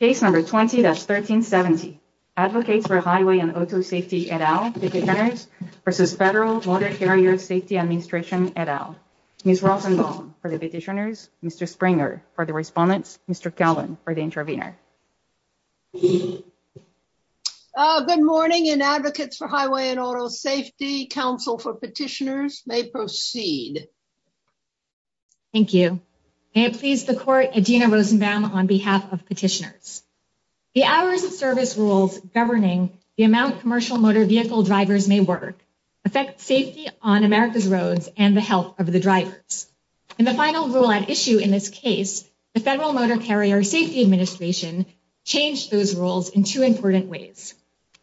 Case number 20-1370. Advocates for Highway and Auto Safety et al. Petitioners versus Federal Water Area Safety Administration et al. Ms. Rosenbaum for the petitioners, Mr. Springer for the respondents, Mr. Cowan for the intervener. Good morning and Advocates for Highway and Auto Safety Council for Petitioners may proceed. Thank you. May it please the Court, on behalf of petitioners. The hours of service rules governing the amount commercial motor vehicle drivers may work affect safety on America's roads and the health of the drivers. In the final rule at issue in this case, the Federal Motor Carrier Safety Administration changed those rules in two important ways.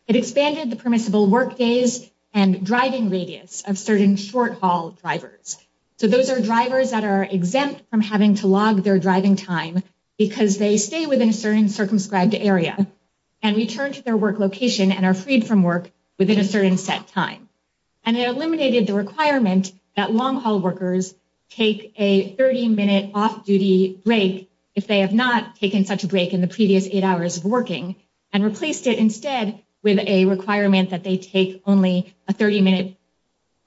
It expanded the permissible work days and driving radius of certain short haul drivers. So those are drivers that are exempt from having to log their driving time because they stay within a certain circumscribed area and return to their work location and are freed from work within a certain set time. And it eliminated the requirement that long haul workers take a 30-minute off-duty break if they have not taken such a break in the previous eight hours of working and replaced it instead with a requirement that they take only a 30-minute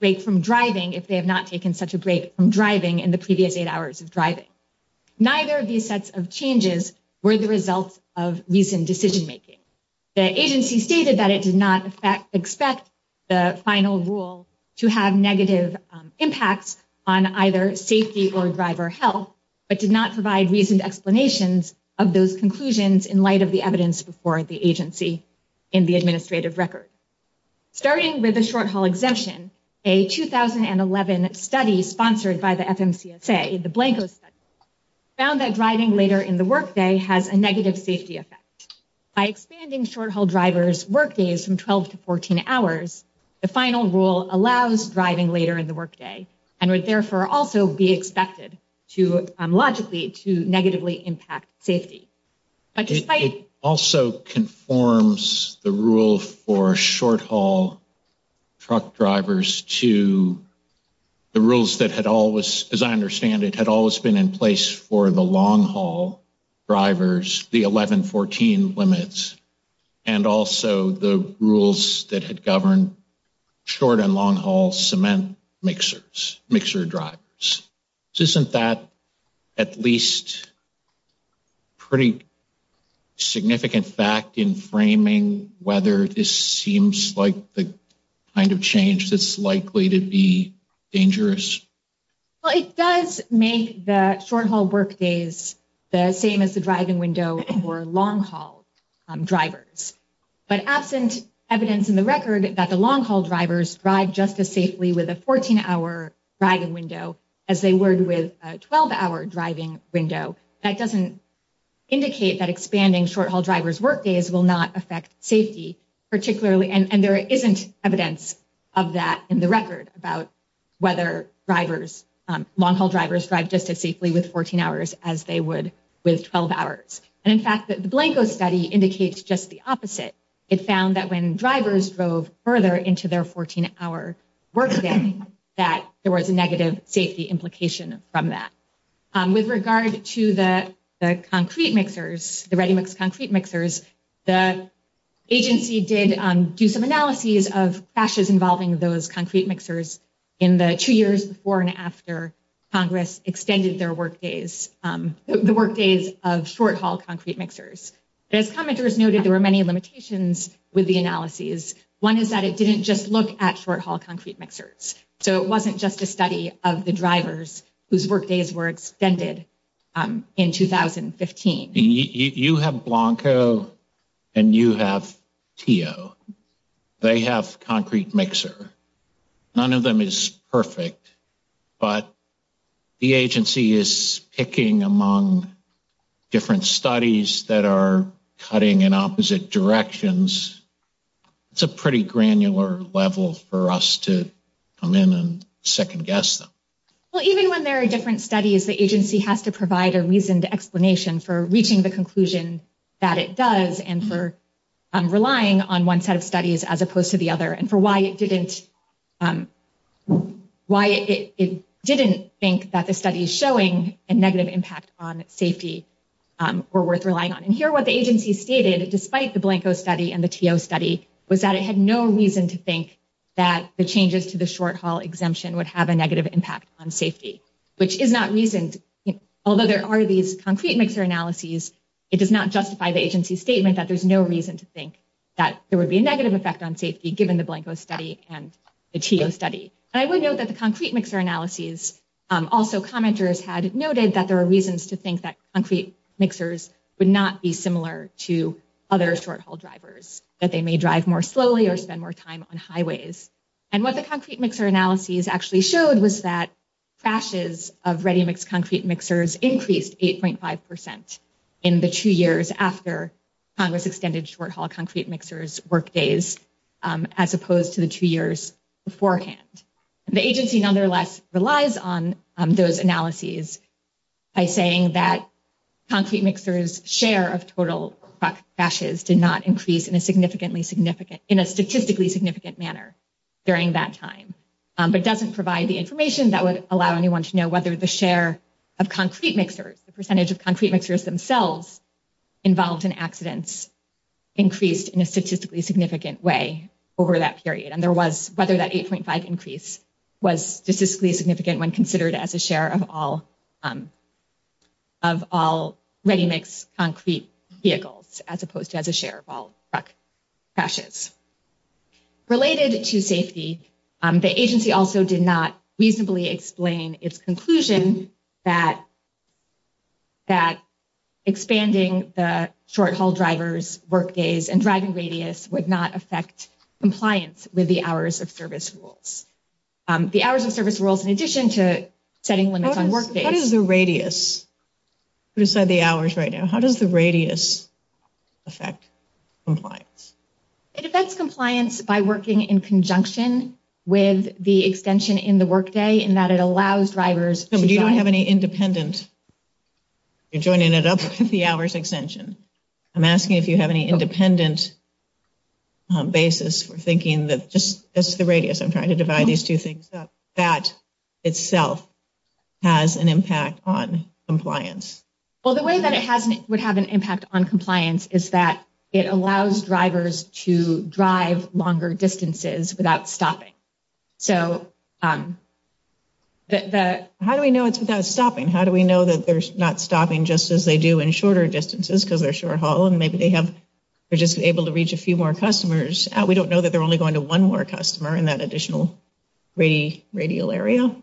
break from driving if they have not taken such a break from driving in the previous eight hours of driving. Neither of these sets of changes were the result of recent decision making. The agency stated that it did not expect the final rule to have negative impacts on either safety or driver health, but did not provide reasoned explanations of those conclusions in light of the evidence before the agency in the administrative record. Starting with the short haul exemption, a 2011 study sponsored by the FMCSA, the Blanco study, found that driving later in the workday has a negative safety effect. By expanding short haul drivers work days from 12 to 14 hours, the final rule allows driving later in the workday and would therefore also be expected to logically to negatively impact safety. It also conforms the rule for short haul truck drivers to the rules that had always, as I understand it, had always been in place for the long haul drivers, the 11-14 limits, and also the rules that had governed short and long haul cement mixers, mixer drivers. Isn't that at least a pretty significant fact in framing whether this kind of change is likely to be dangerous? Well, it does make the short haul work days the same as the driving window for long haul drivers, but absent evidence in the record that the long haul drivers drive just as safely with a 14-hour driving window as they would with a 12-hour driving window, that doesn't indicate that expanding short haul drivers work days will not affect safety. And there isn't evidence of that in the record about whether long haul drivers drive just as safely with 14 hours as they would with 12 hours. And in fact, the Blanco study indicates just the opposite. It found that when drivers drove further into their 14-hour workday, that there was a negative safety implication from that. With regard to the concrete mixers, the ready mix concrete mixers, the agency did do some analyses of crashes involving those concrete mixers in the two years before and after Congress extended their work days, the work days of short haul concrete mixers. As commenters noted, there were many limitations with the analyses. One is that it didn't just look at short haul concrete mixers. So it wasn't just a study of the drivers whose work days were extended in 2015. You have Blanco and you have Teo. They have concrete mixer. None of them is perfect, but the agency is picking among different studies that are cutting in opposite directions. It's a pretty granular level for us to come in and second guess them. Well, even when there are different studies, the agency has to provide a reasoned explanation for reaching the conclusion that it does and for relying on one set of studies as opposed to the other and for why it didn't think that the studies showing a negative impact on safety were worth relying on. And here what the agency stated despite the Blanco study and the Teo study was that it had no reason to think that the changes to the short haul exemption would have a negative impact on safety, which is not reasoned. Although there are these concrete mixer analyses, it does not justify the agency statement that there's no reason to think that there would be a negative effect on safety given the Blanco study and the Teo study. I would note that the concrete mixer analyses also commenters had noted that there are reasons to think that concrete mixers would not be similar to other short haul drivers, that they may drive more slowly or spend more time on highways. And what the concrete mixer analyses actually showed was that crashes of ready mix concrete mixers increased 8.5% in the two years after Congress extended short haul concrete mixers work days as opposed to the two years beforehand. The agency nonetheless relies on those analyses by saying that concrete mixers share of total crashes did not increase in a statistically significant manner during that time, but doesn't provide the information that would allow anyone to know whether the share of concrete mixers, the percentage of concrete mixers themselves involved in accidents increased in a statistically significant way over that period. And whether that 8.5% increase was statistically significant when considered as a share of all ready mix concrete vehicles as opposed to as a share of all truck crashes. Related to safety, the agency also did not reasonably explain its conclusion that expanding the short haul drivers work days and driving radius would not affect compliance with the hours of service rules. The hours of service rules in addition to setting limits on work days. How does the radius, put aside the hours right now, how does the radius affect compliance? It affects compliance by working in conjunction with the extension in the work day in that it allows drivers. No, but you don't have any independent, you're joining it up with the hours extension. I'm asking if you have any independent basis for thinking that just as the radius, I'm trying to divide these two things up, that itself has an impact on compliance. Well, the way that it would have an impact on compliance is that it allows drivers to drive longer distances without stopping. So, how do we know it's without stopping? How do we know that they're not stopping just as they do in shorter distances because they're short haul and maybe they're just able to reach a few more customers? We don't know that they're only going to one more customer in that additional radius area.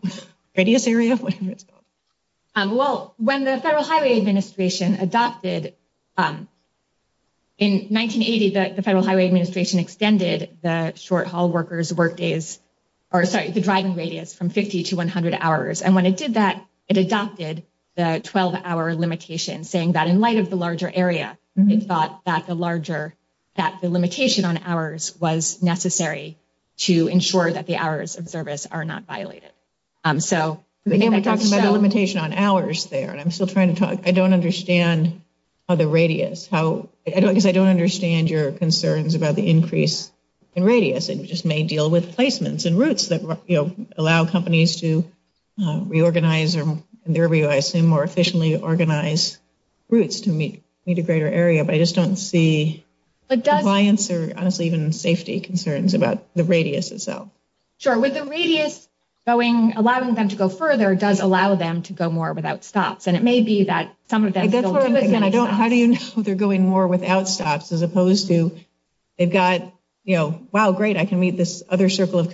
Well, when the Federal Highway Administration adopted, in 1980, the Federal Highway Administration extended the short haul workers work days, or sorry, the driving radius from 50 to 100 hours. And when it did that, it adopted the 12-hour limitation saying that in light of the larger area, it thought that the larger, that the limitation on hours was necessary to ensure that the hours of service are not violated. So, we're talking about a limitation on hours there, and I'm still trying to talk. I don't understand how the radius, how I don't, because I don't understand your concerns about the increase in radius. It just may deal with placements and routes that, you know, allow companies to reorganize or, in their view, I assume, more efficiently organize routes to meet a greater area, but I just don't see compliance or honestly even safety concerns about the radius itself. Sure, with the radius going, allowing them to go further does allow them to go more without stops, and it may be that some of them still do it. And I don't, how do you know they're going more without stops as opposed to they've got, you know, wow, great, I can meet this other circle of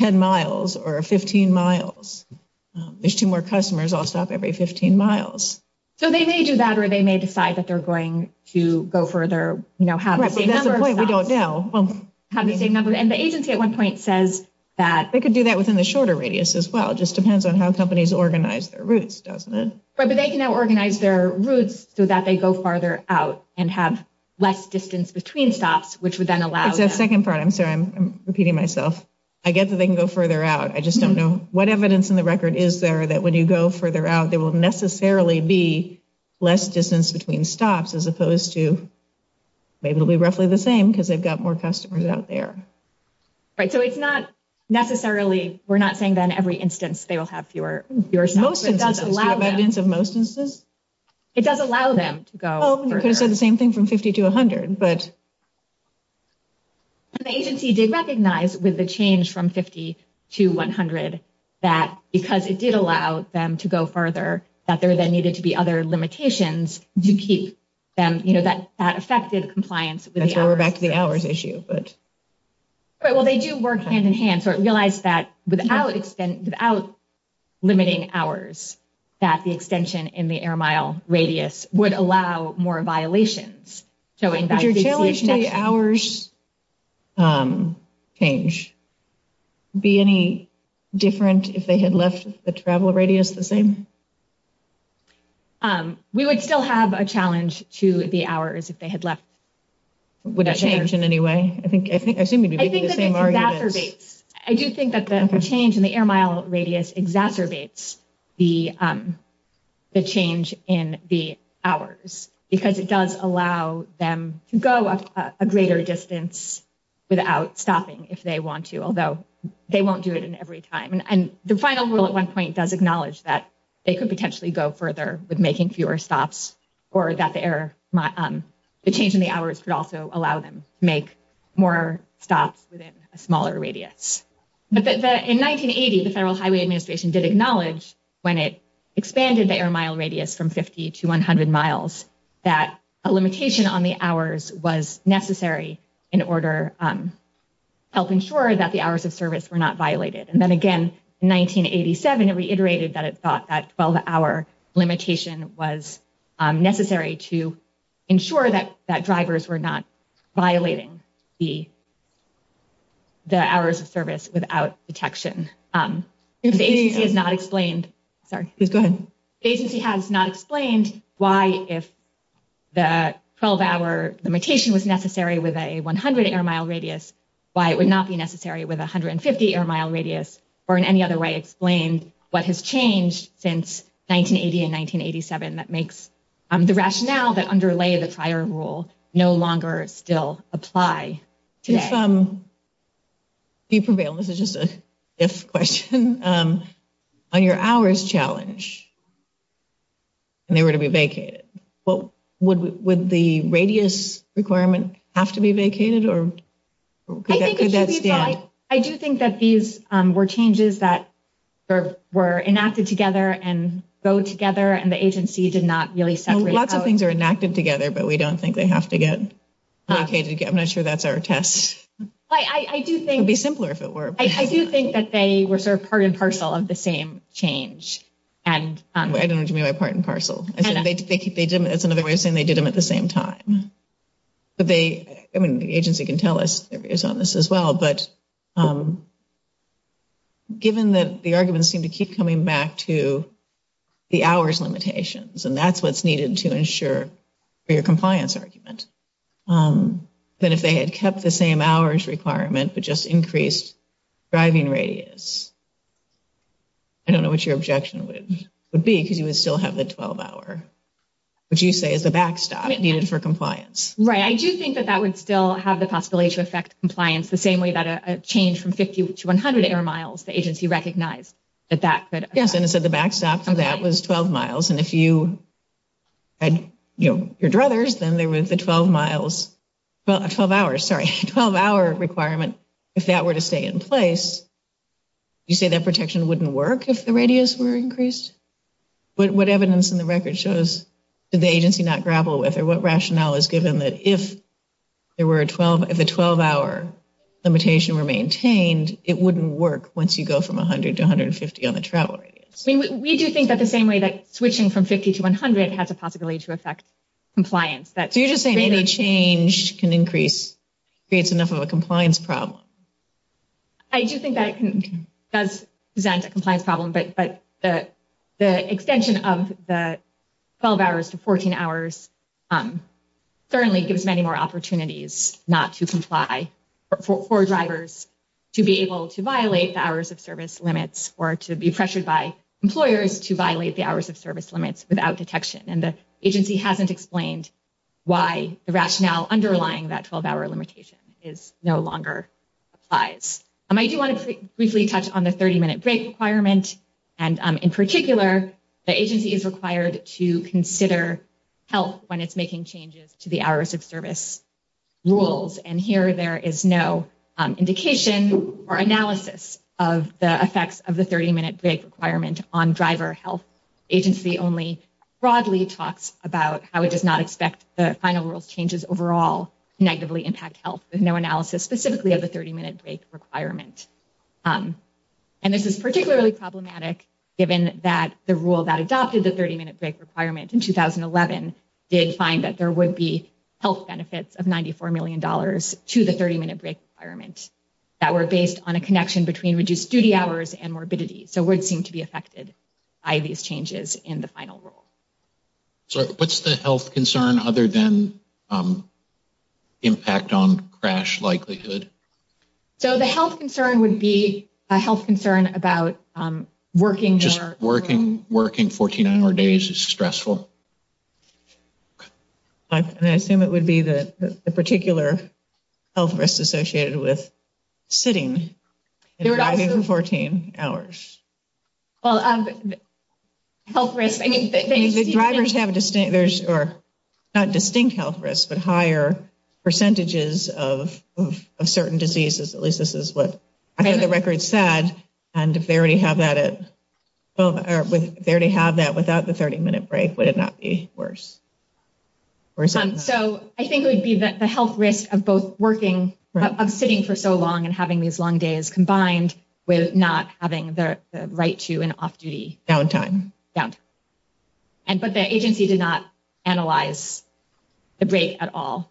10 miles or 15 miles. There's two more customers, I'll stop every 15 miles. So, they may do that, or they may decide that they're going to go further, you know, have the same number of stops. Right, but that's the point, we don't know. Well, have the same number, and the agency at one point says that. They could do that within the shorter radius as well, just depends on how companies organize their routes, doesn't it? Right, but they can now organize their routes so that they go farther out and have less distance between stops, which would then allow. It's that second part, I'm sorry, I'm repeating myself. I get that they can go further out, I just don't know what evidence in the record is there that when you go further out, there will necessarily be less distance between stops as opposed to, maybe it'll be roughly the same because they've got more customers out there. Right, so it's not necessarily, we're not saying then every instance they will have fewer stops. Most instances, do you have evidence of most instances? It does allow them to go further. You could have said the same thing from 50 to 100, but. And the agency did recognize with the change from 50 to 100 that because it did allow them to go further, that there then needed to be other limitations to keep them, you know, that effective compliance with the hours. That's where we're back to the hours issue, but. Well, they do work hand in hand, so it realized that without limiting hours, that the extension in the air mile radius would allow more violations. Would your challenge to the hours change be any different if they had left the travel radius the same? We would still have a challenge to the hours if they had left. Would that change in any way? I think I seem to be making the same arguments. I do think that the change in the air mile radius exacerbates the change in the hours because it does allow them to go a greater distance without stopping if they want to, although they won't do it in every time. And the final rule at one point does acknowledge that they could potentially go further with making fewer stops or that the change in the hours would also allow them to make more stops within a smaller radius. But in 1980, the Federal Highway Administration did acknowledge when it expanded the air mile radius from 50 to 100 miles, that a limitation on the hours was necessary in order to help ensure that the hours of service were not violated. And then again, in 1987, it reiterated that it thought that 12 hour limitation was necessary to ensure that drivers were not violating the hours of service without detection. The agency has not explained why if the 12 hour limitation was necessary with a 100 air mile radius, why it would not be necessary with 150 air mile radius, or in any other way explain what has changed since 1980 and 1987 that makes the rationale that underlay the prior rule no longer still apply today. If you prevail, this is just a if question, on your hours challenge, and they were to be vacated, would the radius requirement have to be vacated? I do think that these were changes that were enacted together and go together, and the agency did not really separate. Lots of things are enacted together, but we don't think they have to get vacated. I'm not sure that's our test. I do think it would be simpler if it were. I do think that they were sort of part and parcel of the same change. I don't know what you mean by part and parcel. That's another way of saying they did them at the same time. The agency can tell us their views on this as well, but given that the arguments seem to keep coming back to the hours limitations, and that's what's needed to ensure for your compliance argument, that if they had kept the same hours requirement but just increased driving radius, I don't know what your objection would be because you would still have the 12-hour, which you say is the backstop needed for compliance. Right. I do think that that would still have the possibility to affect compliance the same way that a change from 50 to 100 air miles, the agency recognized that that could. Yes, and it said the backstop for that was 12 miles, and if you had your druthers, then there was the 12 miles, 12 hours, sorry, 12-hour requirement. If that were to stay in place, you say that protection wouldn't work if the radius were increased? What evidence in the record shows did the agency not grapple with or what rationale is given that if the 12-hour limitation were maintained, it wouldn't work once you go from 100 to 150 on the travel radius? We do think that the same way that switching from 50 to 100 has a possibility to affect compliance. So you're just saying any change can increase, creates enough a compliance problem. I do think that it does present a compliance problem, but the extension of the 12 hours to 14 hours certainly gives many more opportunities not to comply for drivers to be able to violate the hours of service limits or to be pressured by employers to violate the hours of service limits without detection, and the agency hasn't explained why the rationale underlying that 12-hour limitation no longer applies. I do want to briefly touch on the 30-minute break requirement, and in particular, the agency is required to consider health when it's making changes to the hours of service rules, and here there is no indication or analysis of the effects of the 30-minute break requirement on driver health. The agency only broadly talks about how it does not changes overall negatively impact health with no analysis specifically of the 30-minute break requirement, and this is particularly problematic given that the rule that adopted the 30-minute break requirement in 2011 did find that there would be health benefits of 94 million dollars to the 30-minute break requirement that were based on a connection between reduced duty hours and morbidity, so would seem to be affected by these changes in the final rule. So what's the concern other than impact on crash likelihood? So the health concern would be a health concern about working 14-hour days is stressful. I assume it would be the particular health risk associated with sitting and driving for 14 hours. Well, health risk, I mean, the drivers have distinct, there's not distinct health risk, but higher percentages of certain diseases, at least this is what the record said, and if they already have that without the 30-minute break, would it not be worse? So I think it would be that the health risk of both working, of sitting for so long and having these long days combined with not having the right to an off-duty downtime, but the agency did not analyze the break at all,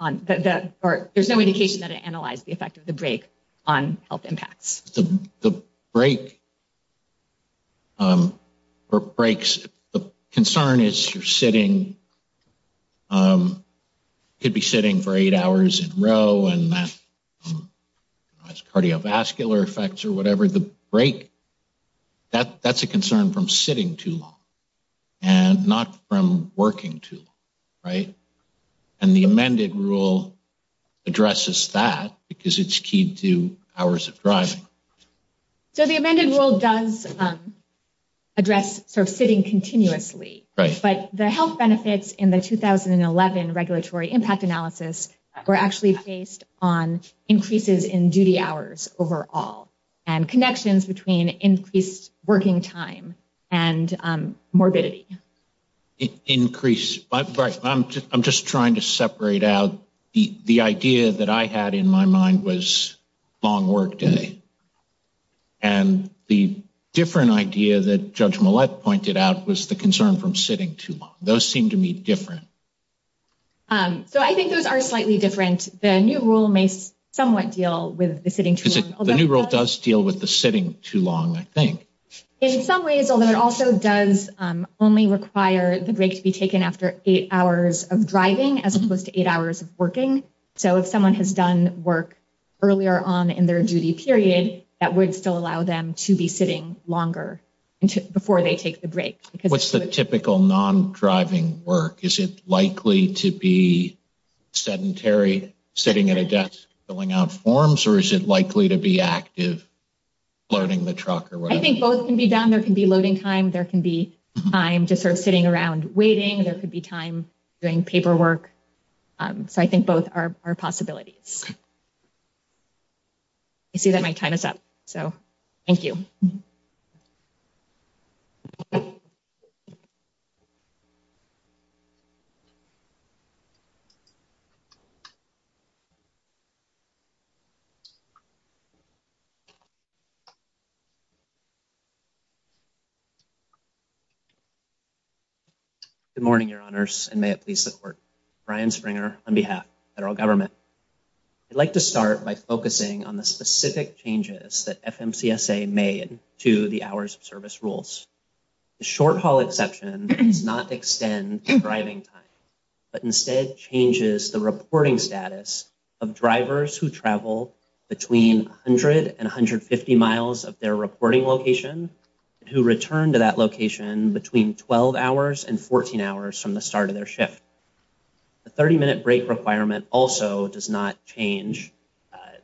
or there's no indication that it analyzed the effect of the break on health impacts. The break, or breaks, the concern is you're sitting, you could be sitting for eight hours in a row and that has cardiovascular effects or whatever, the break, that's a concern from sitting too long and not from working too long, right? And the amended rule addresses that because it's key to hours of driving. So the amended rule does address sort of sitting continuously, but the health benefits in the 2011 regulatory impact analysis were actually based on increases in duty hours overall and connections between increased working time and morbidity. Increase, I'm just trying to separate out, the idea that I had in my mind was long work day, and the different idea that Judge Millett pointed out was the concern from sitting too long. Those seem to me different. So I think those are slightly different. The new rule may somewhat deal with the sitting too long. The new rule does deal with the sitting too long, I think. In some ways, although it also does only require the break to be taken after eight hours of driving as opposed to eight hours of working. So if someone has done work earlier on in their duty period, that would still allow them to be sitting longer before they take the break. What's the typical non-driving work? Is it likely to be sedentary sitting at a desk filling out forms or is it likely to be active loading the truck or whatever? I think both can be done. There can be loading time, there can be time just sort of sitting around waiting, there could be time doing paperwork. So I think both are possibilities. I see that my time is up, so thank you. Good morning, Your Honors, and may it please the Court. Brian Springer on behalf of the Federal I'd like to start by focusing on the specific changes that FMCSA made to the hours of service rules. The short haul exception does not extend driving time, but instead changes the reporting status of drivers who travel between 100 and 150 miles of their reporting location, who return to that location between 12 hours and 14 hours from the start of their shift. The 30-minute break requirement also does not change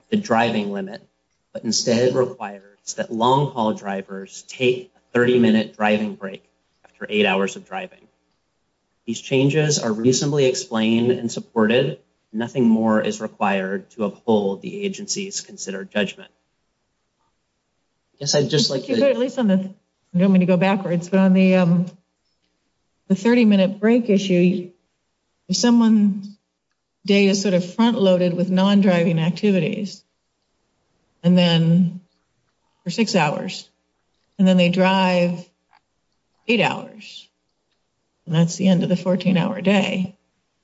the driving limit, but instead requires that long-haul drivers take a 30-minute driving break after eight hours of driving. These changes are reasonably explained and supported. Nothing more is required to uphold the agency's considered judgment. I guess I'd just like to... You want me to go backwards, but on the 30-minute break issue, someone's day is sort of front-loaded with non-driving activities for six hours, and then they drive eight hours, and that's the end of the 14-hour day.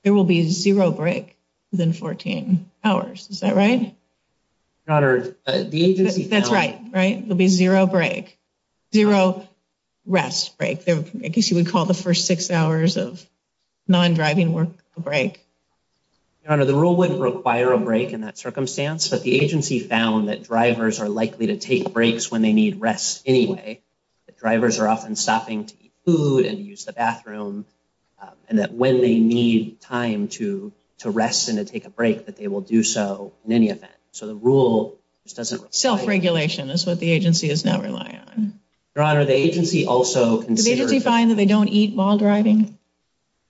There will be zero break within 14 hours. Is that right? Your Honor, the agency... That's right, right? There'll be zero break, I guess you would call the first six hours of non-driving work a break. Your Honor, the rule wouldn't require a break in that circumstance, but the agency found that drivers are likely to take breaks when they need rest anyway. Drivers are often stopping to eat food and use the bathroom, and that when they need time to rest and to take a break, that they will do so in any event. So the rule just doesn't... Self-regulation is what the agency is now relying on. Your Honor, the agency also considered... Did the agency find that they don't eat while driving?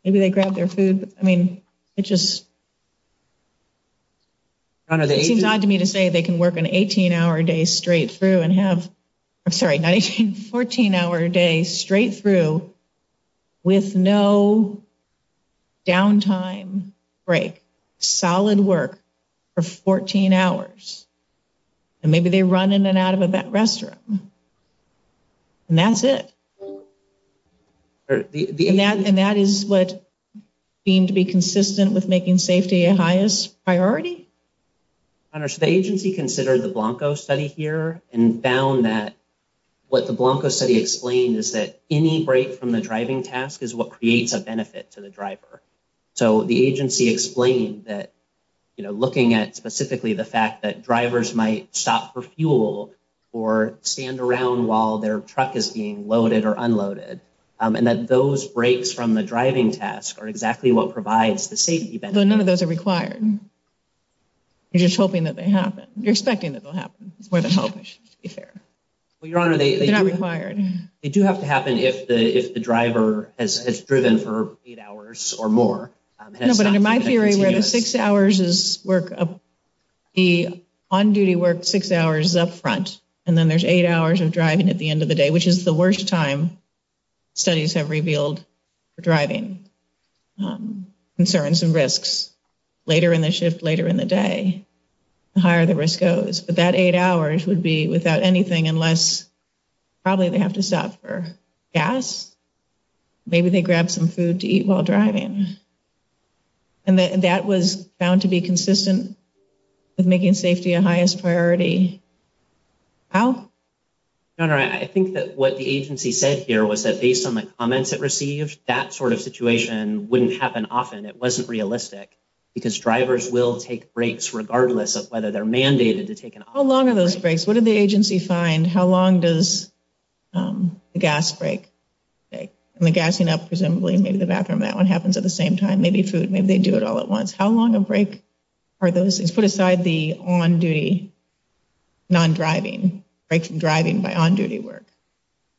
Maybe they grab their food, but I mean, it just... Your Honor, the agency... It seems odd to me to say they can work an 18-hour day straight through and have... I'm sorry, not 18, 14-hour day straight through with no downtime break, solid work for 14 hours, and maybe they run in and out of that restroom, and that's it. And that is what seemed to be consistent with making safety a highest priority? Your Honor, so the agency considered the Blanco study here and found that what the Blanco study explained is that any break from the driving task is what creates a benefit to the driver. So the agency explained that, you know, looking at specifically the fact that drivers might stop for fuel or stand around while their truck is being loaded or unloaded, and that those breaks from the driving task are exactly what provides the safety benefit. Though none of those are required. You're just hoping that they happen. You're expecting that they'll happen. It's more than hoping, to be fair. Well, Your Honor, they... They're not required. They do have to happen if the driver has driven for eight hours or more. No, but under my theory, where the six hours is work... The on-duty work six hours is up front, and then there's eight hours of driving at the end of the day, which is the worst time studies have revealed for driving concerns and risks. Later in the shift, later in the day, the higher the risk goes. But that eight hours would be without anything unless probably they have to stop for gas. Maybe they grab some food to eat while driving. And that was found to be consistent with making safety a highest priority. Al? Your Honor, I think that what the agency said here was that based on the comments it received, that sort of situation wouldn't happen often. It wasn't realistic because drivers will take breaks regardless of whether they're mandated to take an... How long are those breaks? What did the agency find? How long does a gas break take? And the gassing up, presumably, maybe the bathroom, that one happens at the same time. Maybe food. Maybe they do it all at once. How long a break are those things? Put aside the on-duty, non-driving, breaks in driving by on-duty work.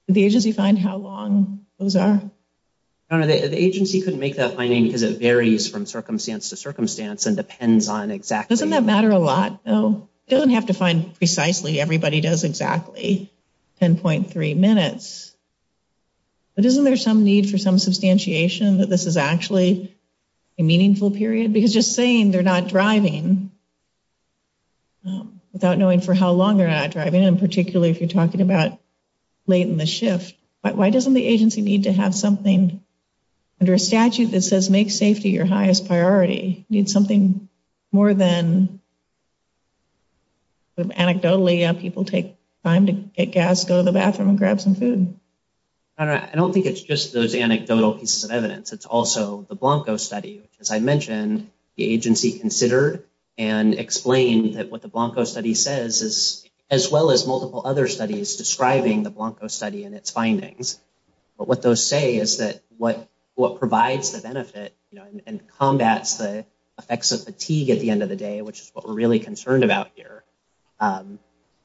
Did the agency find how long those are? Your Honor, the agency couldn't make that finding because it varies from circumstance to circumstance and depends on exactly... Doesn't that matter a lot though? It doesn't have to find precisely. Everybody does exactly 10.3 minutes. But isn't there some need for some substantiation that this is actually a meaningful period? Because just saying they're not driving without knowing for how long they're not driving, and particularly if you're talking about late in the shift, why doesn't the agency need to have something under a statute that says make safety your people take time to get gas, go to the bathroom, and grab some food? Your Honor, I don't think it's just those anecdotal pieces of evidence. It's also the Blanco study, which as I mentioned, the agency considered and explained that what the Blanco study says, as well as multiple other studies describing the Blanco study and its findings. But what those say is that what provides the benefit and combats the effects of fatigue at end of the day, which is what we're really concerned about here,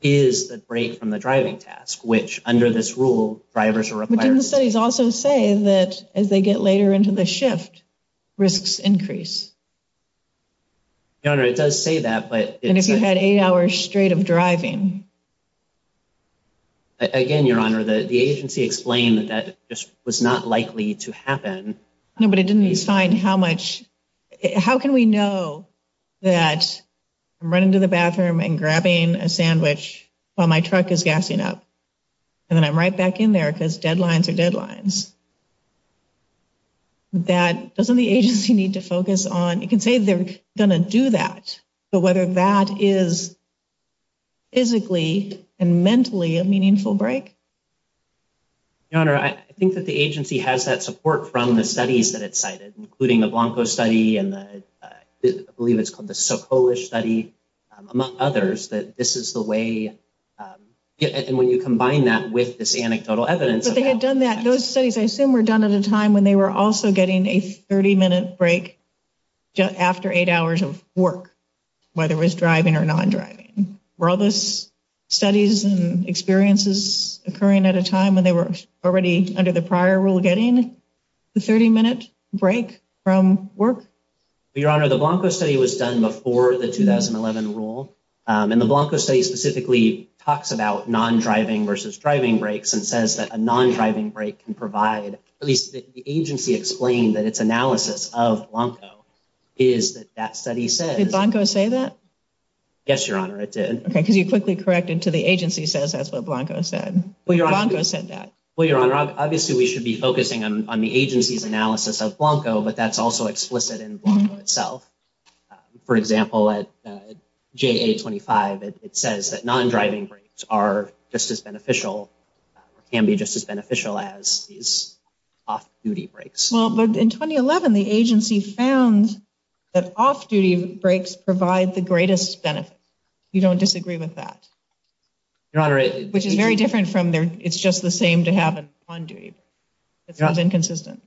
is the break from the driving task, which under this rule, drivers are required... But didn't the studies also say that as they get later into the shift, risks increase? Your Honor, it does say that, but... And if you had eight hours straight of driving? Again, Your Honor, the agency explained that just was not know that I'm running to the bathroom and grabbing a sandwich while my truck is gassing up, and then I'm right back in there because deadlines are deadlines. Doesn't the agency need to focus on... You can say they're going to do that, but whether that is physically and mentally a meaningful break? Your Honor, I think that the agency has that support from the studies that it cited, including the Blanco study and I believe it's called the Socolish study, among others, that this is the way... And when you combine that with this anecdotal evidence... But they had done that. Those studies, I assume, were done at a time when they were also getting a 30-minute break after eight hours of work, whether it was driving or non-driving. Were all those studies and experiences occurring at a time when they were already under the prior rule the 30-minute break from work? Your Honor, the Blanco study was done before the 2011 rule, and the Blanco study specifically talks about non-driving versus driving breaks and says that a non-driving break can provide... At least the agency explained that its analysis of Blanco is that that study says... Did Blanco say that? Yes, Your Honor, it did. Okay, because you quickly corrected to the agency says that's what Blanco said. Blanco said that. Well, obviously, we should be focusing on the agency's analysis of Blanco, but that's also explicit in Blanco itself. For example, at JA-25, it says that non-driving breaks are just as beneficial or can be just as beneficial as these off-duty breaks. Well, in 2011, the agency found that off-duty breaks provide the greatest benefit. You don't disagree with that? Your Honor, it... Which is very different from their... It's just the same to have an on-duty break. It sounds inconsistent.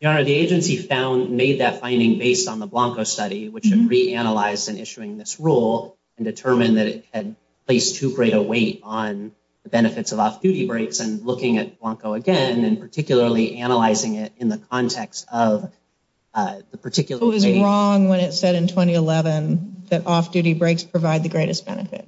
Your Honor, the agency made that finding based on the Blanco study, which should reanalyze in issuing this rule and determine that it had placed too great a weight on the benefits of off-duty breaks and looking at Blanco again and particularly analyzing it in the context of the particular... It was wrong when it said in 2011 that off-duty breaks provide the greatest benefit.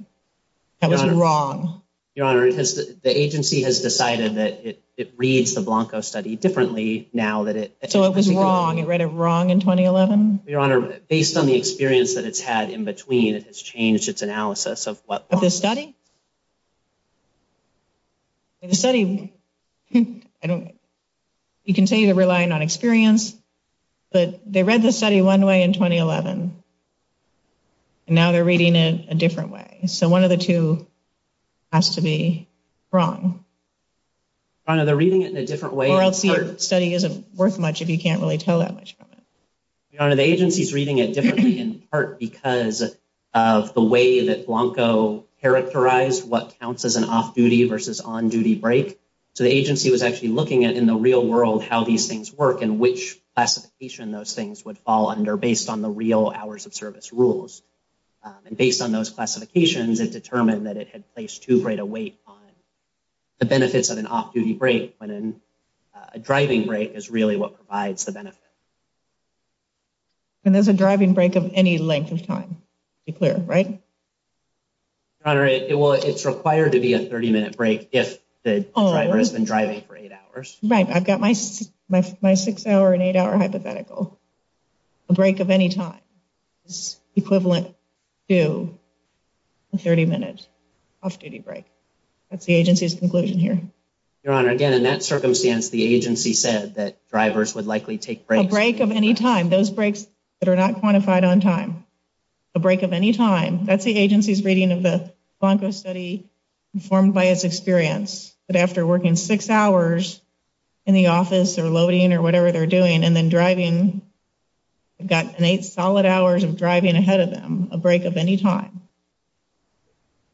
That was wrong. Your Honor, the agency has decided that it reads the Blanco study differently now that it... So it was wrong. It read it wrong in 2011? Your Honor, based on the experience that it's had in between, it has changed its analysis of what... Of the study? The study... I don't... You can say they're relying on experience, but they read the study one way in 2011 and now they're reading it a different way. So one of the two has to be wrong. Your Honor, they're reading it in a different way... Or else your study isn't worth much if you can't really tell that much from it. Your Honor, the agency's reading it differently in part because of the way that Blanco characterized what counts as an off-duty versus on-duty break. So the agency was actually looking at, in the real world, how these things work and which classification those things would fall under based on the real hours of service rules. And based on those classifications, it determined that it had placed too great a weight on the benefits of an off-duty break when a driving break is really what provides the benefit. And there's a driving break of any length of time to be clear, right? Your Honor, it will... It's been driving for eight hours. Right. I've got my six-hour and eight-hour hypothetical. A break of any time is equivalent to a 30-minute off-duty break. That's the agency's conclusion here. Your Honor, again, in that circumstance, the agency said that drivers would likely take breaks... A break of any time. Those breaks that are not quantified on time. A break of any time. That's the agency's reading of the Blanco study, informed by its experience, that after working six hours in the office or loading or whatever they're doing, and then driving... They've got an eight solid hours of driving ahead of them. A break of any time.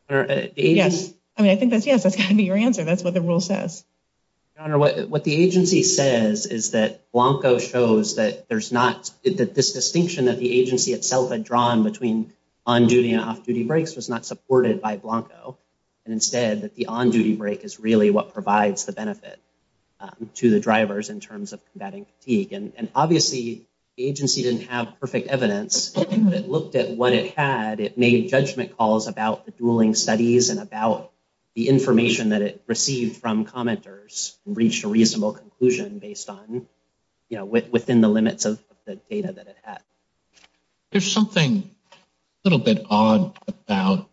Yes. I mean, I think that's yes. That's got to be your answer. That's what the rule says. Your Honor, what the agency says is that Blanco shows that there's not... That this distinction that the agency itself had drawn between on-duty and off-duty breaks was not supported by Blanco, and instead that the on-duty break is really what provides the benefit to the drivers in terms of combating fatigue. Obviously, the agency didn't have perfect evidence, but it looked at what it had. It made judgment calls about the dueling studies and about the information that it received from commenters, reached a reasonable conclusion based on... Within the limits of the data that it had. There's something a little bit odd about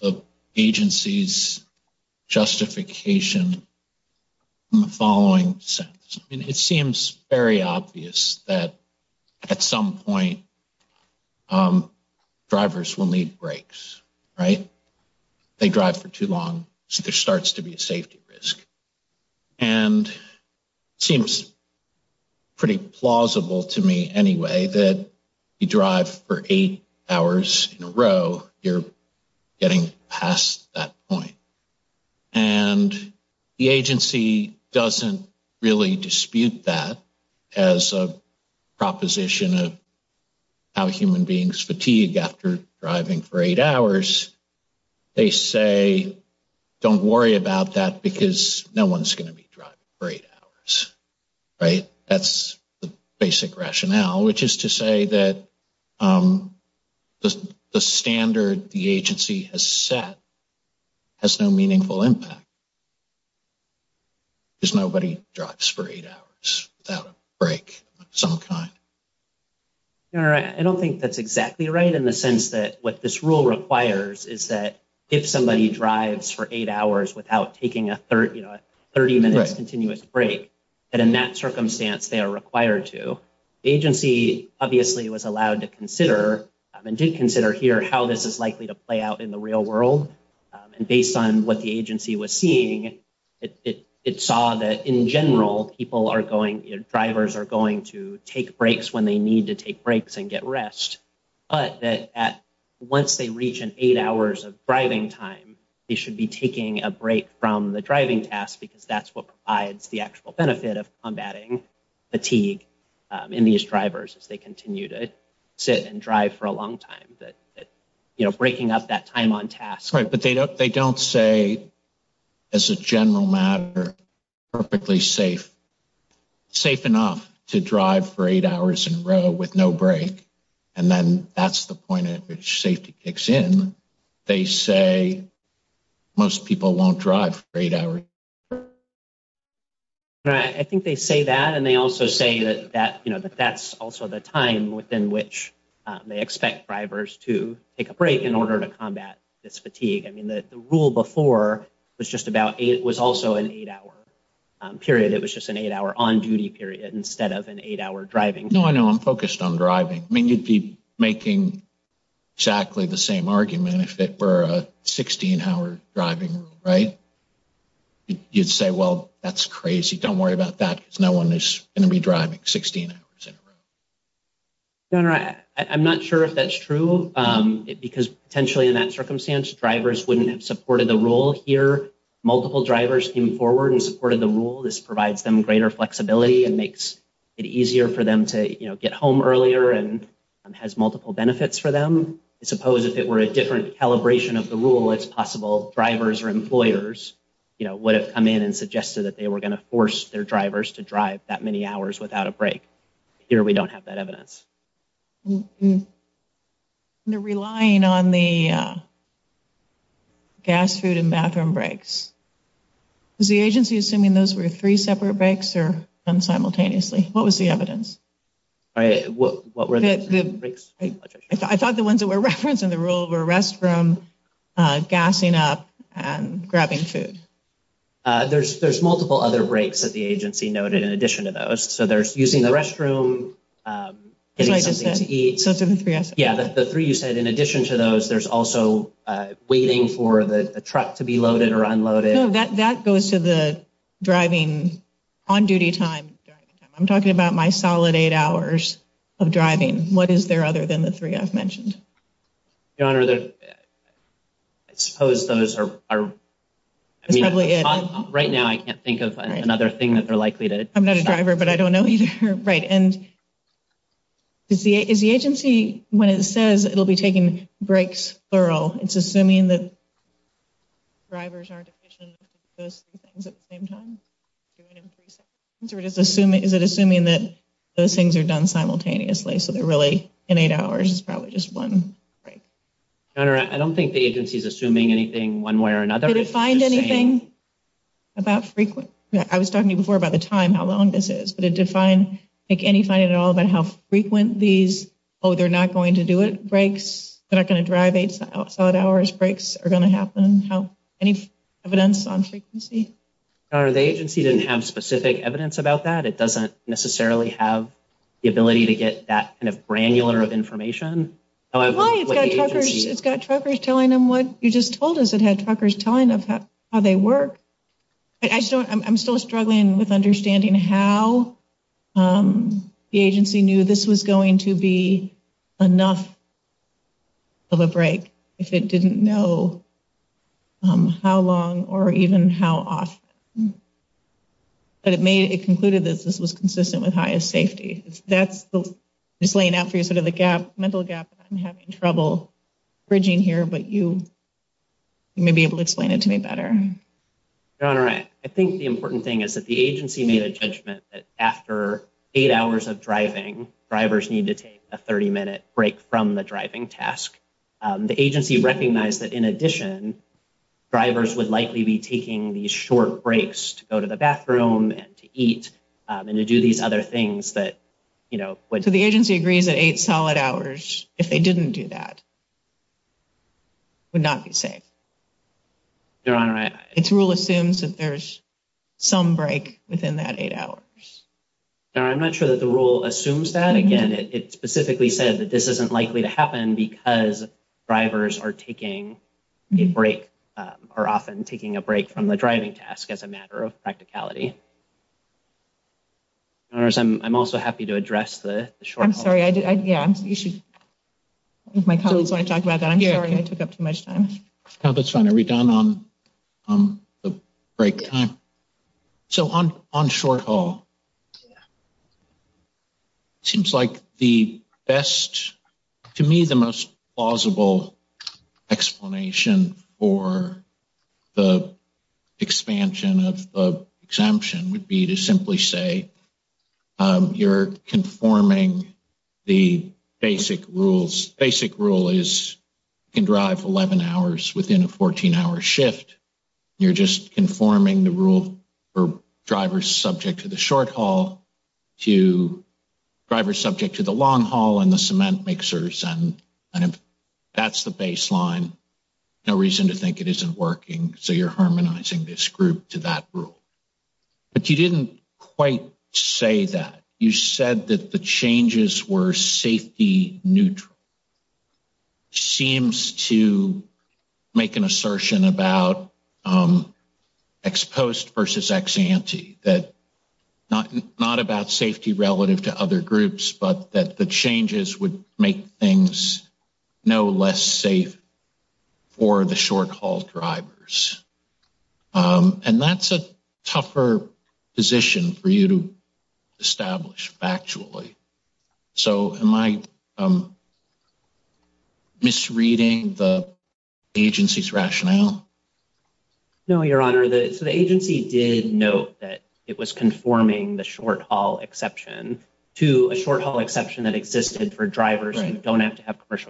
the agency's justification in the following sense. I mean, it seems very obvious that at some point, drivers will need breaks, right? They drive for too long, so there starts to be a safety risk. And it seems pretty plausible to me anyway that you drive for eight hours in a row, you're getting past that point. And the agency doesn't really dispute that as a proposition of how human beings fatigue after driving for eight hours. They say, don't worry about that because no one's going to be driving for eight hours, right? That's the basic rationale, which is to say that the standard the agency has set has no meaningful impact because nobody drives for eight hours without a break of some kind. All right. I don't think that's exactly right in the sense that what this rule requires is that if somebody drives for eight hours without taking a 30-minute continuous break, that in that circumstance, they are required to. The agency obviously was allowed to consider and did consider here how this is likely to play out in the real world. And based on what the agency was seeing, it saw that in general, people are going... Drivers are going to take breaks when they need to take breaks and get rest, but that once they reach an eight hours of driving time, they should be taking a break from the driving task because that's what provides the actual benefit of combating fatigue in these drivers as they continue to sit and drive for a long time, that breaking up that time on task. Right. But they don't say as a general matter, perfectly safe, safe enough to drive for eight hours in a row with no break. And then that's the point at which safety kicks in. They say most people won't drive for eight hours. Right. I think they say that. And they also say that that's also the time within which they expect drivers to take a break in order to combat this fatigue. I mean, the rule before was just about... It was also an eight hour period. It was just an eight hour on duty period instead of an eight hour driving. No, I know. I'm focused on driving. I mean, you'd be making exactly the same argument if it were a 16 hour driving rule, right? You'd say, well, that's crazy. Don't worry about that because no one is going to be driving 16 hours in a row. No, no. I'm not sure if that's true because potentially in that circumstance, drivers wouldn't have supported the rule here. Multiple drivers came forward and supported the rule. This provides them greater flexibility and makes it easier for them to get home earlier and has multiple benefits for them. I suppose if it were a different calibration of the rule, it's possible drivers or employers would have come in and suggested that they were going to force their drivers to drive that many hours without a break. Here, we don't have that evidence. They're relying on the gas, food, and bathroom breaks. Is the agency assuming those were three separate breaks or done simultaneously? What was the evidence? I thought the ones that were referenced in the rule were restroom, gassing up, and grabbing food. There's multiple other breaks that the agency noted in addition to those. There's using the restroom, getting something to eat. The three you said in addition to those, there's also waiting for the truck to be loaded or unloaded. That goes to the driving on-duty time. I'm talking about my solid eight hours of driving. What is there other than the three I've mentioned? Your Honor, I suppose those are... Right now, I can't think of another thing that they're likely to... I'm not a driver, but I don't know either. Is the agency, when it says it'll be taking breaks plural, it's assuming that drivers aren't efficient with those three things at the same time? Is it assuming that those things are done simultaneously, so they're really in eight hours, it's probably just one break? Your Honor, I don't think the agency is assuming anything one way or another. Did it find anything about frequent... I was talking to you before about the time, how long this is, but did it make any finding at all about how frequent these, oh, they're not going to do it, breaks, they're not going to drive eight solid hours, breaks are going to happen? Any evidence on frequency? Your Honor, the agency didn't have specific evidence about that. It doesn't necessarily have the ability to get that kind of granular of information. Why? It's got truckers telling them what you just told us. It had truckers telling them how they work. I'm still struggling with understanding how the agency knew this was going to be enough of a break if it didn't know how long or even how often. But it concluded that this was consistent with highest safety. That's just laying out for you sort of the mental gap. I'm having trouble bridging here, but you may be able to explain it to me better. Your Honor, I think the important thing is that the agency made a judgment that after eight hours of driving, drivers need to take a 30-minute break from the driving task. The agency recognized that in addition, drivers would likely be taking these short breaks to go to the bathroom and to eat and to do these other things that, you know... So the agency agrees that eight solid hours, if they didn't do that, would not be safe. Your Honor, I... Its rule assumes that there's some break within that eight hours. Your Honor, I'm not sure that the rule assumes that. Again, it specifically said that this isn't likely to happen because drivers are taking a break, are often taking a break from the driving task as a matter of issue. My colleagues want to talk about that. I'm sorry I took up too much time. No, that's fine. Are we done on the break time? So on short haul, seems like the best, to me, the most plausible explanation for the expansion of the rule is to simply say, you're conforming the basic rules. Basic rule is you can drive 11 hours within a 14-hour shift. You're just conforming the rule for drivers subject to the short haul to drivers subject to the long haul and the cement mixers. And if that's the baseline, no reason to think it isn't working. So you're harmonizing this group to that rule. But you didn't quite say that. You said that the changes were safety neutral. Seems to make an assertion about ex-post versus ex-ante, that not about safety relative to other groups, but that the changes would make things no less safe for the short haul drivers. And that's a tougher position for you to establish factually. So am I misreading the agency's rationale? No, Your Honor. The agency did note that it was conforming the short haul exception to a short haul exception that existed for drivers who don't have to have consistent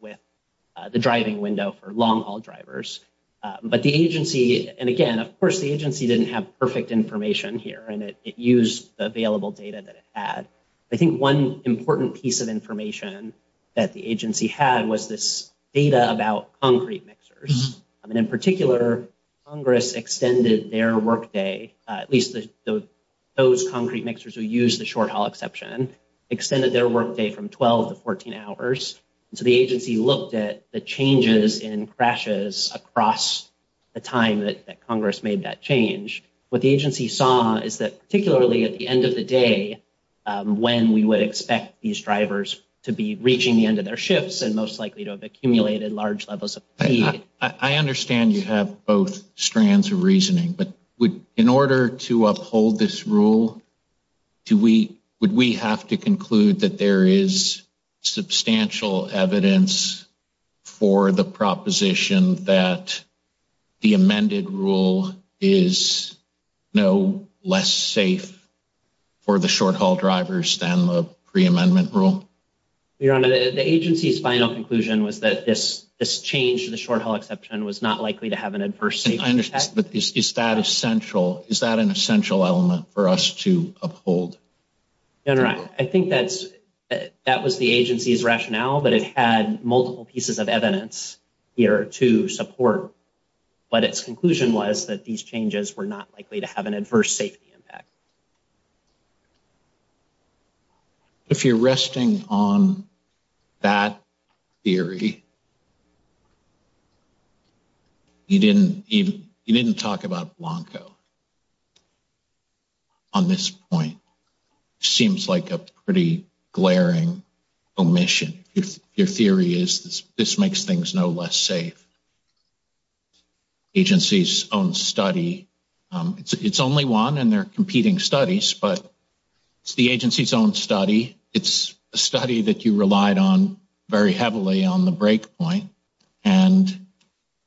with the driving window for long haul drivers. But the agency, and again, of course, the agency didn't have perfect information here. And it used the available data that it had. I think one important piece of information that the agency had was this data about concrete mixers. And in particular, Congress extended their workday, at least those concrete mixers who the short haul exception, extended their workday from 12 to 14 hours. So the agency looked at the changes in crashes across the time that Congress made that change. What the agency saw is that particularly at the end of the day, when we would expect these drivers to be reaching the end of their shifts and most likely to have accumulated large levels of fatigue. I understand you have both strands of reasoning, but in order to uphold this rule, do we, would we have to conclude that there is substantial evidence for the proposition that the amended rule is no less safe for the short haul drivers than the pre-amendment rule? Your Honor, the agency's final conclusion was this change to the short haul exception was not likely to have an adverse safety impact. But is that essential? Is that an essential element for us to uphold? Your Honor, I think that's, that was the agency's rationale, but it had multiple pieces of evidence here to support. But its conclusion was that these changes were not likely to have an adverse safety impact. If you're resting on that theory, you didn't even, you didn't talk about Blanco on this point. Seems like a pretty glaring omission. If your theory is this, this makes things no less safe. Agency's own study, it's only one and they're competing studies, but it's the agency's own study. It's a study that you relied on very heavily on the break point and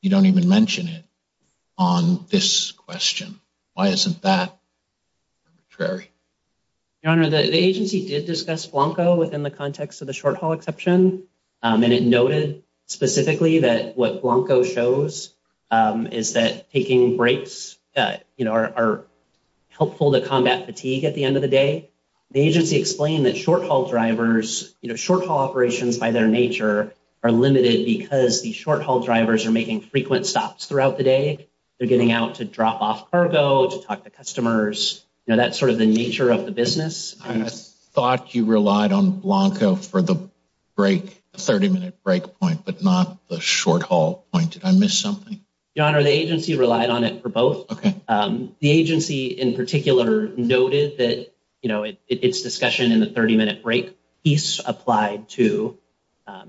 you don't even mention it on this question. Why isn't that arbitrary? Your Honor, the agency did discuss Blanco within the context of the short haul exception and it noted specifically that what Blanco shows is that taking breaks are helpful to combat fatigue at the end of the day. The agency explained that short haul drivers, short haul operations by their nature are limited because the short haul drivers are making frequent stops throughout the day. They're getting out to drop off cargo, to talk to customers. That's sort of the nature of the 30-minute break point, but not the short haul point. Did I miss something? Your Honor, the agency relied on it for both. The agency in particular noted that its discussion in the 30-minute break piece applied to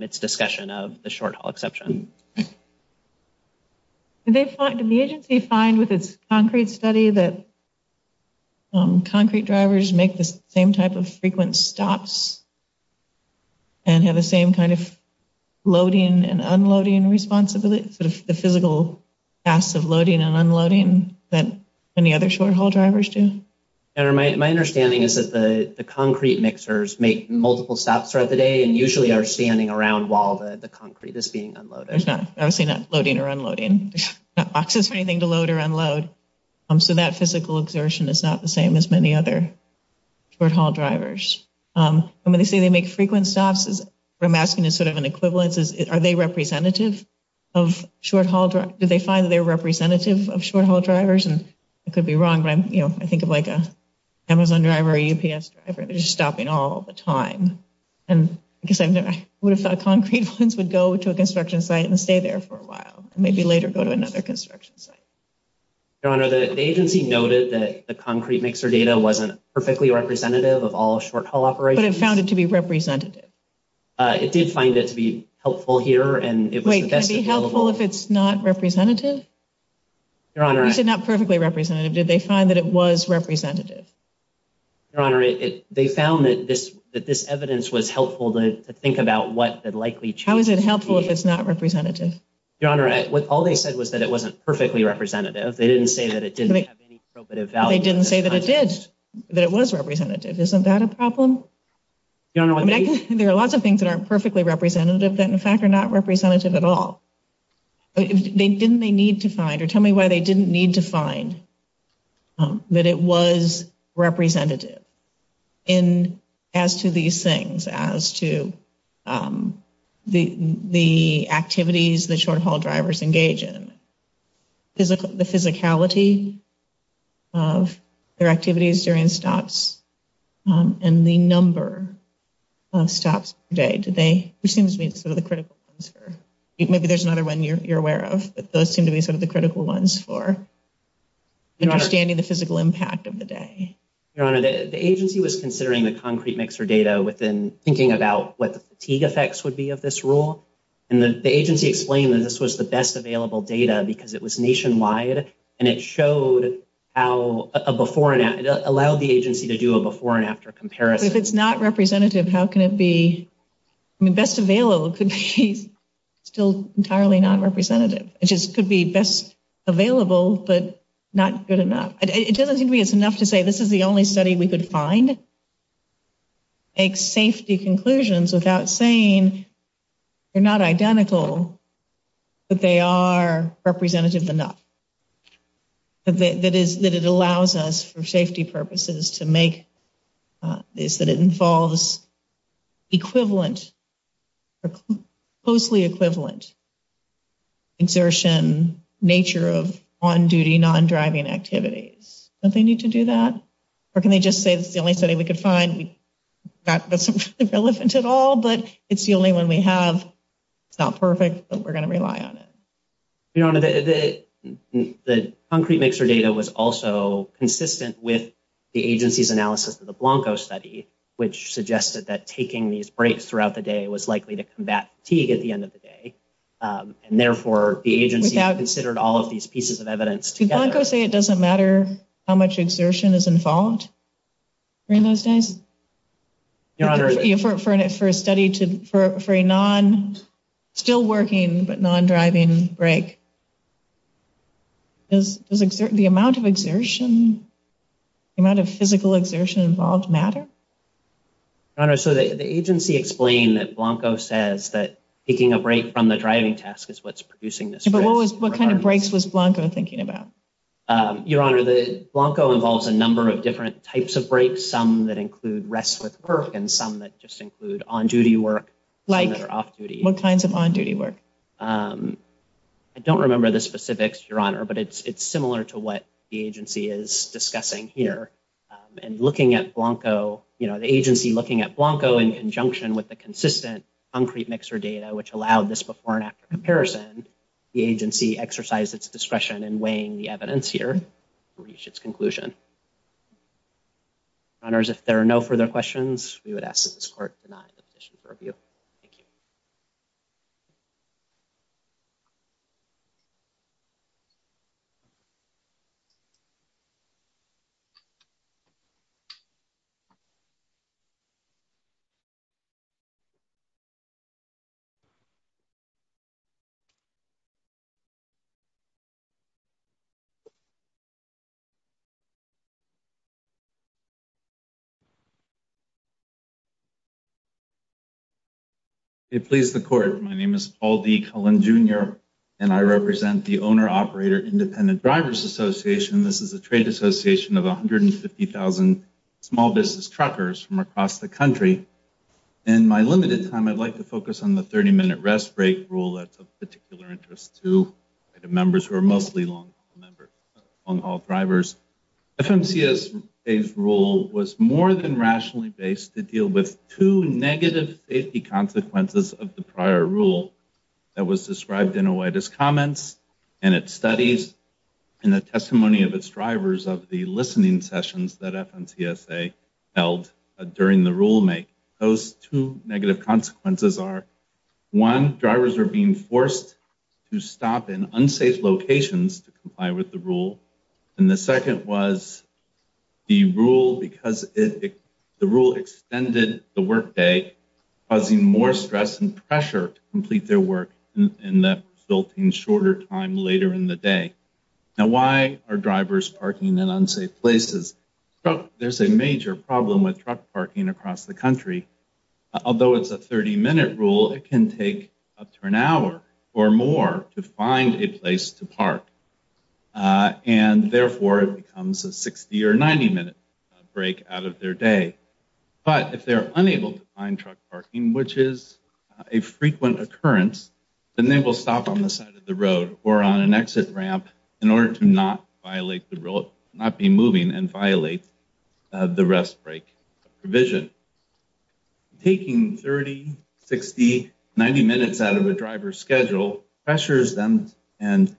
its discussion of the short haul exception. Did the agency find with its concrete study that kind of loading and unloading responsibility, sort of the physical tasks of loading and unloading that any other short haul drivers do? Your Honor, my understanding is that the concrete mixers make multiple stops throughout the day and usually are standing around while the concrete is being unloaded. There's obviously not loading or unloading. There's not boxes or anything to load or unload, so that physical exertion is not the same as many other short haul drivers. When they say they make frequent stops, what I'm asking is sort of an equivalence. Are they representative of short haul drivers? Do they find that they're representative of short haul drivers? I could be wrong, but I think of like an Amazon driver or a UPS driver. They're just stopping all the time. I guess I would have thought concrete ones would go to a construction site and stay there for a while and maybe later go to another construction site. Your Honor, the agency noted that the concrete mixer data wasn't perfectly representative of all short haul operations. But it found it to be representative? It did find it to be helpful here. Wait, can it be helpful if it's not representative? Your Honor... You said not perfectly representative. Did they find that it was representative? Your Honor, they found that this evidence was helpful to think about what the likely... How is it helpful if it's not representative? Your Honor, all they said was that it wasn't perfectly representative. They didn't say that it didn't have any probative value. They didn't say that it did, that it was representative. Isn't that a problem? Your Honor... There are lots of things that aren't perfectly representative that in fact are not representative at all. Didn't they need to find, or tell me why they didn't need to find that it was representative as to these things, as to the activities the short haul drivers engage in, the physicality of their activities during stops, and the number of stops per day? Did they... Which seems to be sort of the critical ones for... Maybe there's another one you're aware of, but those seem to be sort of the critical ones for understanding the physical impact of the day. Your Honor, the agency was considering the concrete mixer data within thinking about what the fatigue effects would be of this rule. And the agency explained that this was the best available data because it was nationwide, and it showed how... It allowed the agency to do a before and after comparison. If it's not representative, how can it be... I mean, best available could be still entirely non-representative. It just could be best available, but not good enough. It doesn't seem to me it's enough to say this is the only study we are representative enough. That it allows us for safety purposes to make this, that it involves closely equivalent exertion nature of on-duty non-driving activities. Don't they need to do that? Or can they just say it's the only study we could find that's relevant at all, but it's only one we have. It's not perfect, but we're going to rely on it. Your Honor, the concrete mixer data was also consistent with the agency's analysis of the Blanco study, which suggested that taking these breaks throughout the day was likely to combat fatigue at the end of the day. And therefore, the agency considered all of these pieces of evidence together. Did Blanco say it doesn't matter how much exertion is involved during those days? Your Honor... For a study to... For a non... Still working, but non-driving break, does the amount of exertion, the amount of physical exertion involved matter? Your Honor, so the agency explained that Blanco says that taking a break from the driving task is what's producing this. But what kind of breaks was Blanco thinking about? Your Honor, the Blanco involves a number of different types of breaks, some that include rest with work and some that just include on-duty work, some that are off-duty. What kinds of on-duty work? I don't remember the specifics, Your Honor, but it's similar to what the agency is discussing here. And looking at Blanco, the agency looking at Blanco in conjunction with the consistent concrete mixer data, which allowed this before and after comparison, the agency exercised its discretion in weighing the evidence here to reach its conclusion. Your Honors, if there are no further questions, we would ask that this Court deny the position for review. Thank you. Paul D. Cullen, Jr. It pleases the Court. My name is Paul D. Cullen, Jr., and I represent the Owner-Operator Independent Drivers Association. This is a trade association of 150,000 small business truckers from across the country. In my limited time, I'd like to focus on the 30-minute rest break rule that's of particular interest to members who are mostly long-haul drivers. FMCSA's rule was more than rationally based to deal with two negative safety consequences of the prior rule that was described in OIDA's comments and its studies and the testimony of its drivers of the listening sessions that FMCSA held during the rule-make. Those two negative consequences are, one, drivers are being forced to stop in unsafe locations to comply with the rule, and the second was the rule extended the workday, causing more stress and pressure to complete their work in the resulting shorter time later in the day. Now, why are drivers parking in unsafe places? There's a major problem with truck parking across the country. Although it's a 30-minute rule, it can take up to an hour or more to find a place to park, and therefore, it becomes a 60- or 90-minute break out of their day. But if they're unable to find truck parking, which is a frequent occurrence, then they will stop on the side of the road or on an exit ramp in order to not violate the rule, not be moving and violate the rest break provision. And taking 30, 60, 90 minutes out of a driver's schedule pressures them and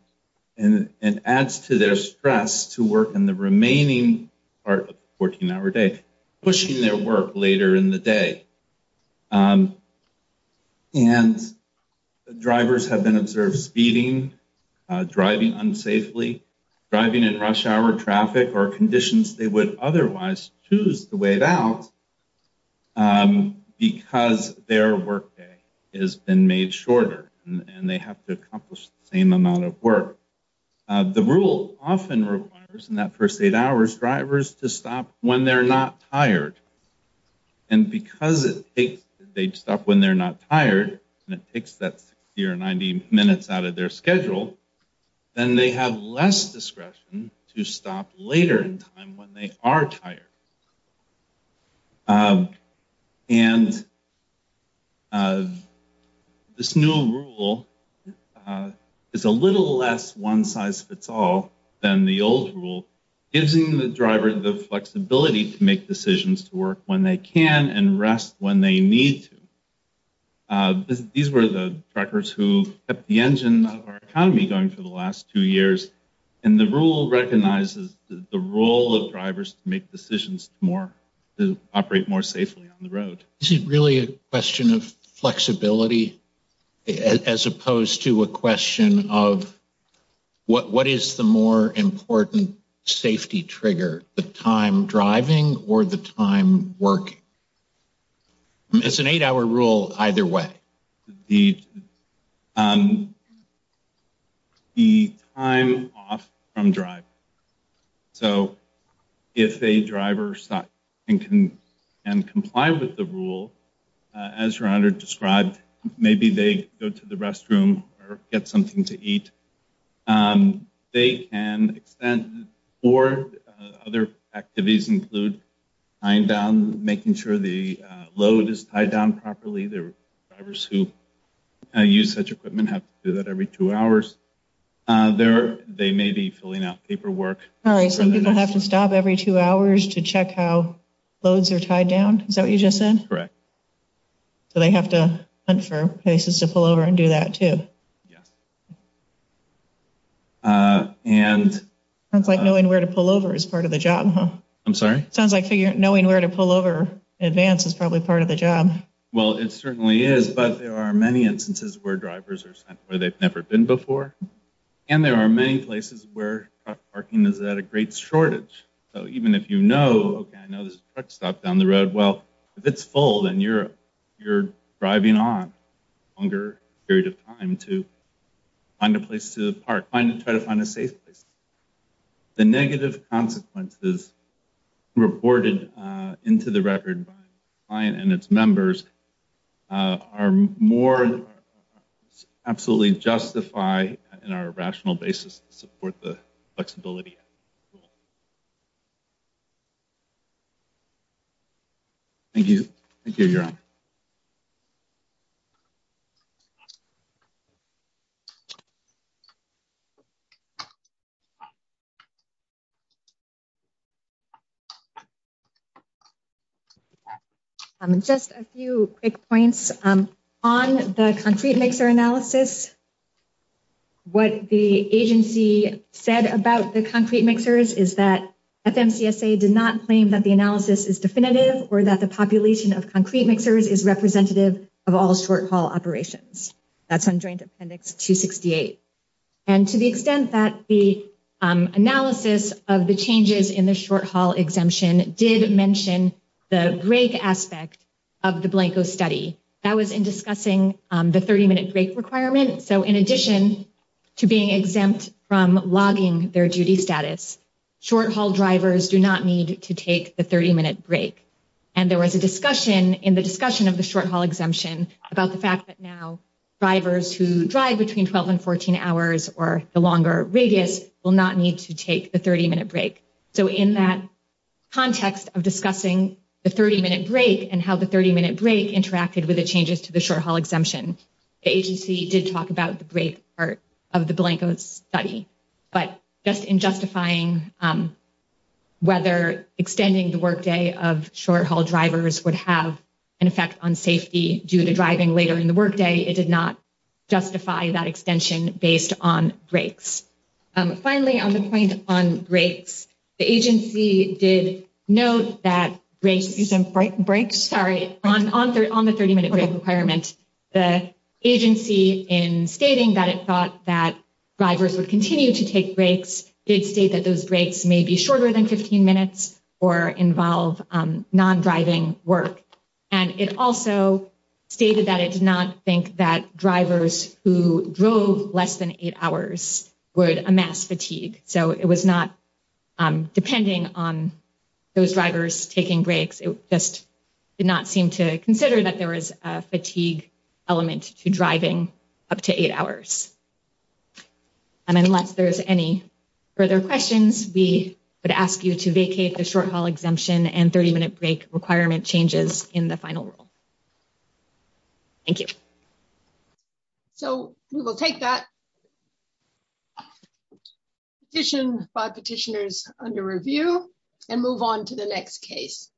adds to their stress to work in the remaining part of the 14-hour day, pushing their work later in the day. And the drivers have been observed speeding, driving unsafely, driving in rush-hour traffic or conditions they would otherwise choose to wait out because their workday has been made shorter and they have to accomplish the same amount of work. The rule often requires, in that first eight hours, drivers to stop when they're not tired. And because they stop when they're not tired and it takes that 60 or 90 minutes out of their schedule, then they have less discretion to stop later in time when they are tired. And this new rule is a little less one-size-fits-all than the old rule, giving the driver the flexibility to make decisions to work when they can and rest when they need to. These were the truckers who kept the engine of our economy going for the last two years, and the rule recognizes the role of drivers to make decisions to operate more safely on the road. Is it really a question of flexibility, as opposed to a question of what is the more important safety trigger, the time driving or the time working? It's an eight-hour rule either way. The time off from driving. So if a driver stops and can comply with the rule, as your honor described, maybe they go to the restroom or get something to eat, they can extend or other activities include tying down, making sure the load is tied down properly. The drivers who use such equipment have to do that every two hours. They may be filling out paperwork. All right, some people have to stop every two hours to check how loads are tied down. Is that what you just said? Correct. So they have to hunt for places to pull over and do that too. Sounds like knowing where to pull over is part of the job, huh? I'm sorry? Sounds like knowing where to pull over in advance is probably part of the job. Well, it certainly is, but there are many instances where drivers are sent where they've never been before, and there are many places where parking is at a great shortage. So even if you know, okay, I know there's a truck stop down the road. Well, if it's full, then you're driving on longer period of time to find a place to park, try to find a safe place. The negative consequences reported into the record by the client and its members are more absolutely justified in our rational basis to support the flexibility. Thank you. Thank you, your honor. Thank you. Just a few quick points on the concrete mixer analysis. What the agency said about the concrete mixers is that FMCSA did not claim that the analysis is definitive or that the population of concrete mixers is representative of all short haul operations. That's on Joint Appendix 268. And to the extent that the analysis of the changes in the short haul exemption did mention the break aspect of the Blanco study, that was in discussing the 30 minute break requirement. So in addition to being exempt from logging their duty status, short haul drivers do not need to take the 30 minute break. And there was a discussion in the discussion of the short haul exemption about the fact that now drivers who drive between 12 and 14 hours or the longer radius will not need to take the 30 minute break. So in that context of discussing the 30 minute break and how the 30 minute break interacted with the changes to the short haul exemption, the agency did talk about the break part of the Blanco study. But just in justifying whether extending the workday of short haul drivers would have an effect on safety due to driving later in the workday, it did not justify that extension based on breaks. Finally, on the point on breaks, the agency did note that breaks, sorry, on the 30 minute break requirement, the agency in stating that it thought that drivers would continue to take breaks did state that those breaks may be involved non-driving work. And it also stated that it did not think that drivers who drove less than eight hours would amass fatigue. So it was not depending on those drivers taking breaks. It just did not seem to consider that there was a fatigue element to driving up to eight hours. And unless there's any further questions, we would ask you to vacate the short haul exemption and 30 minute break requirement changes in the final rule. Thank you. So we will take that petition by petitioners under review and move on to the next case.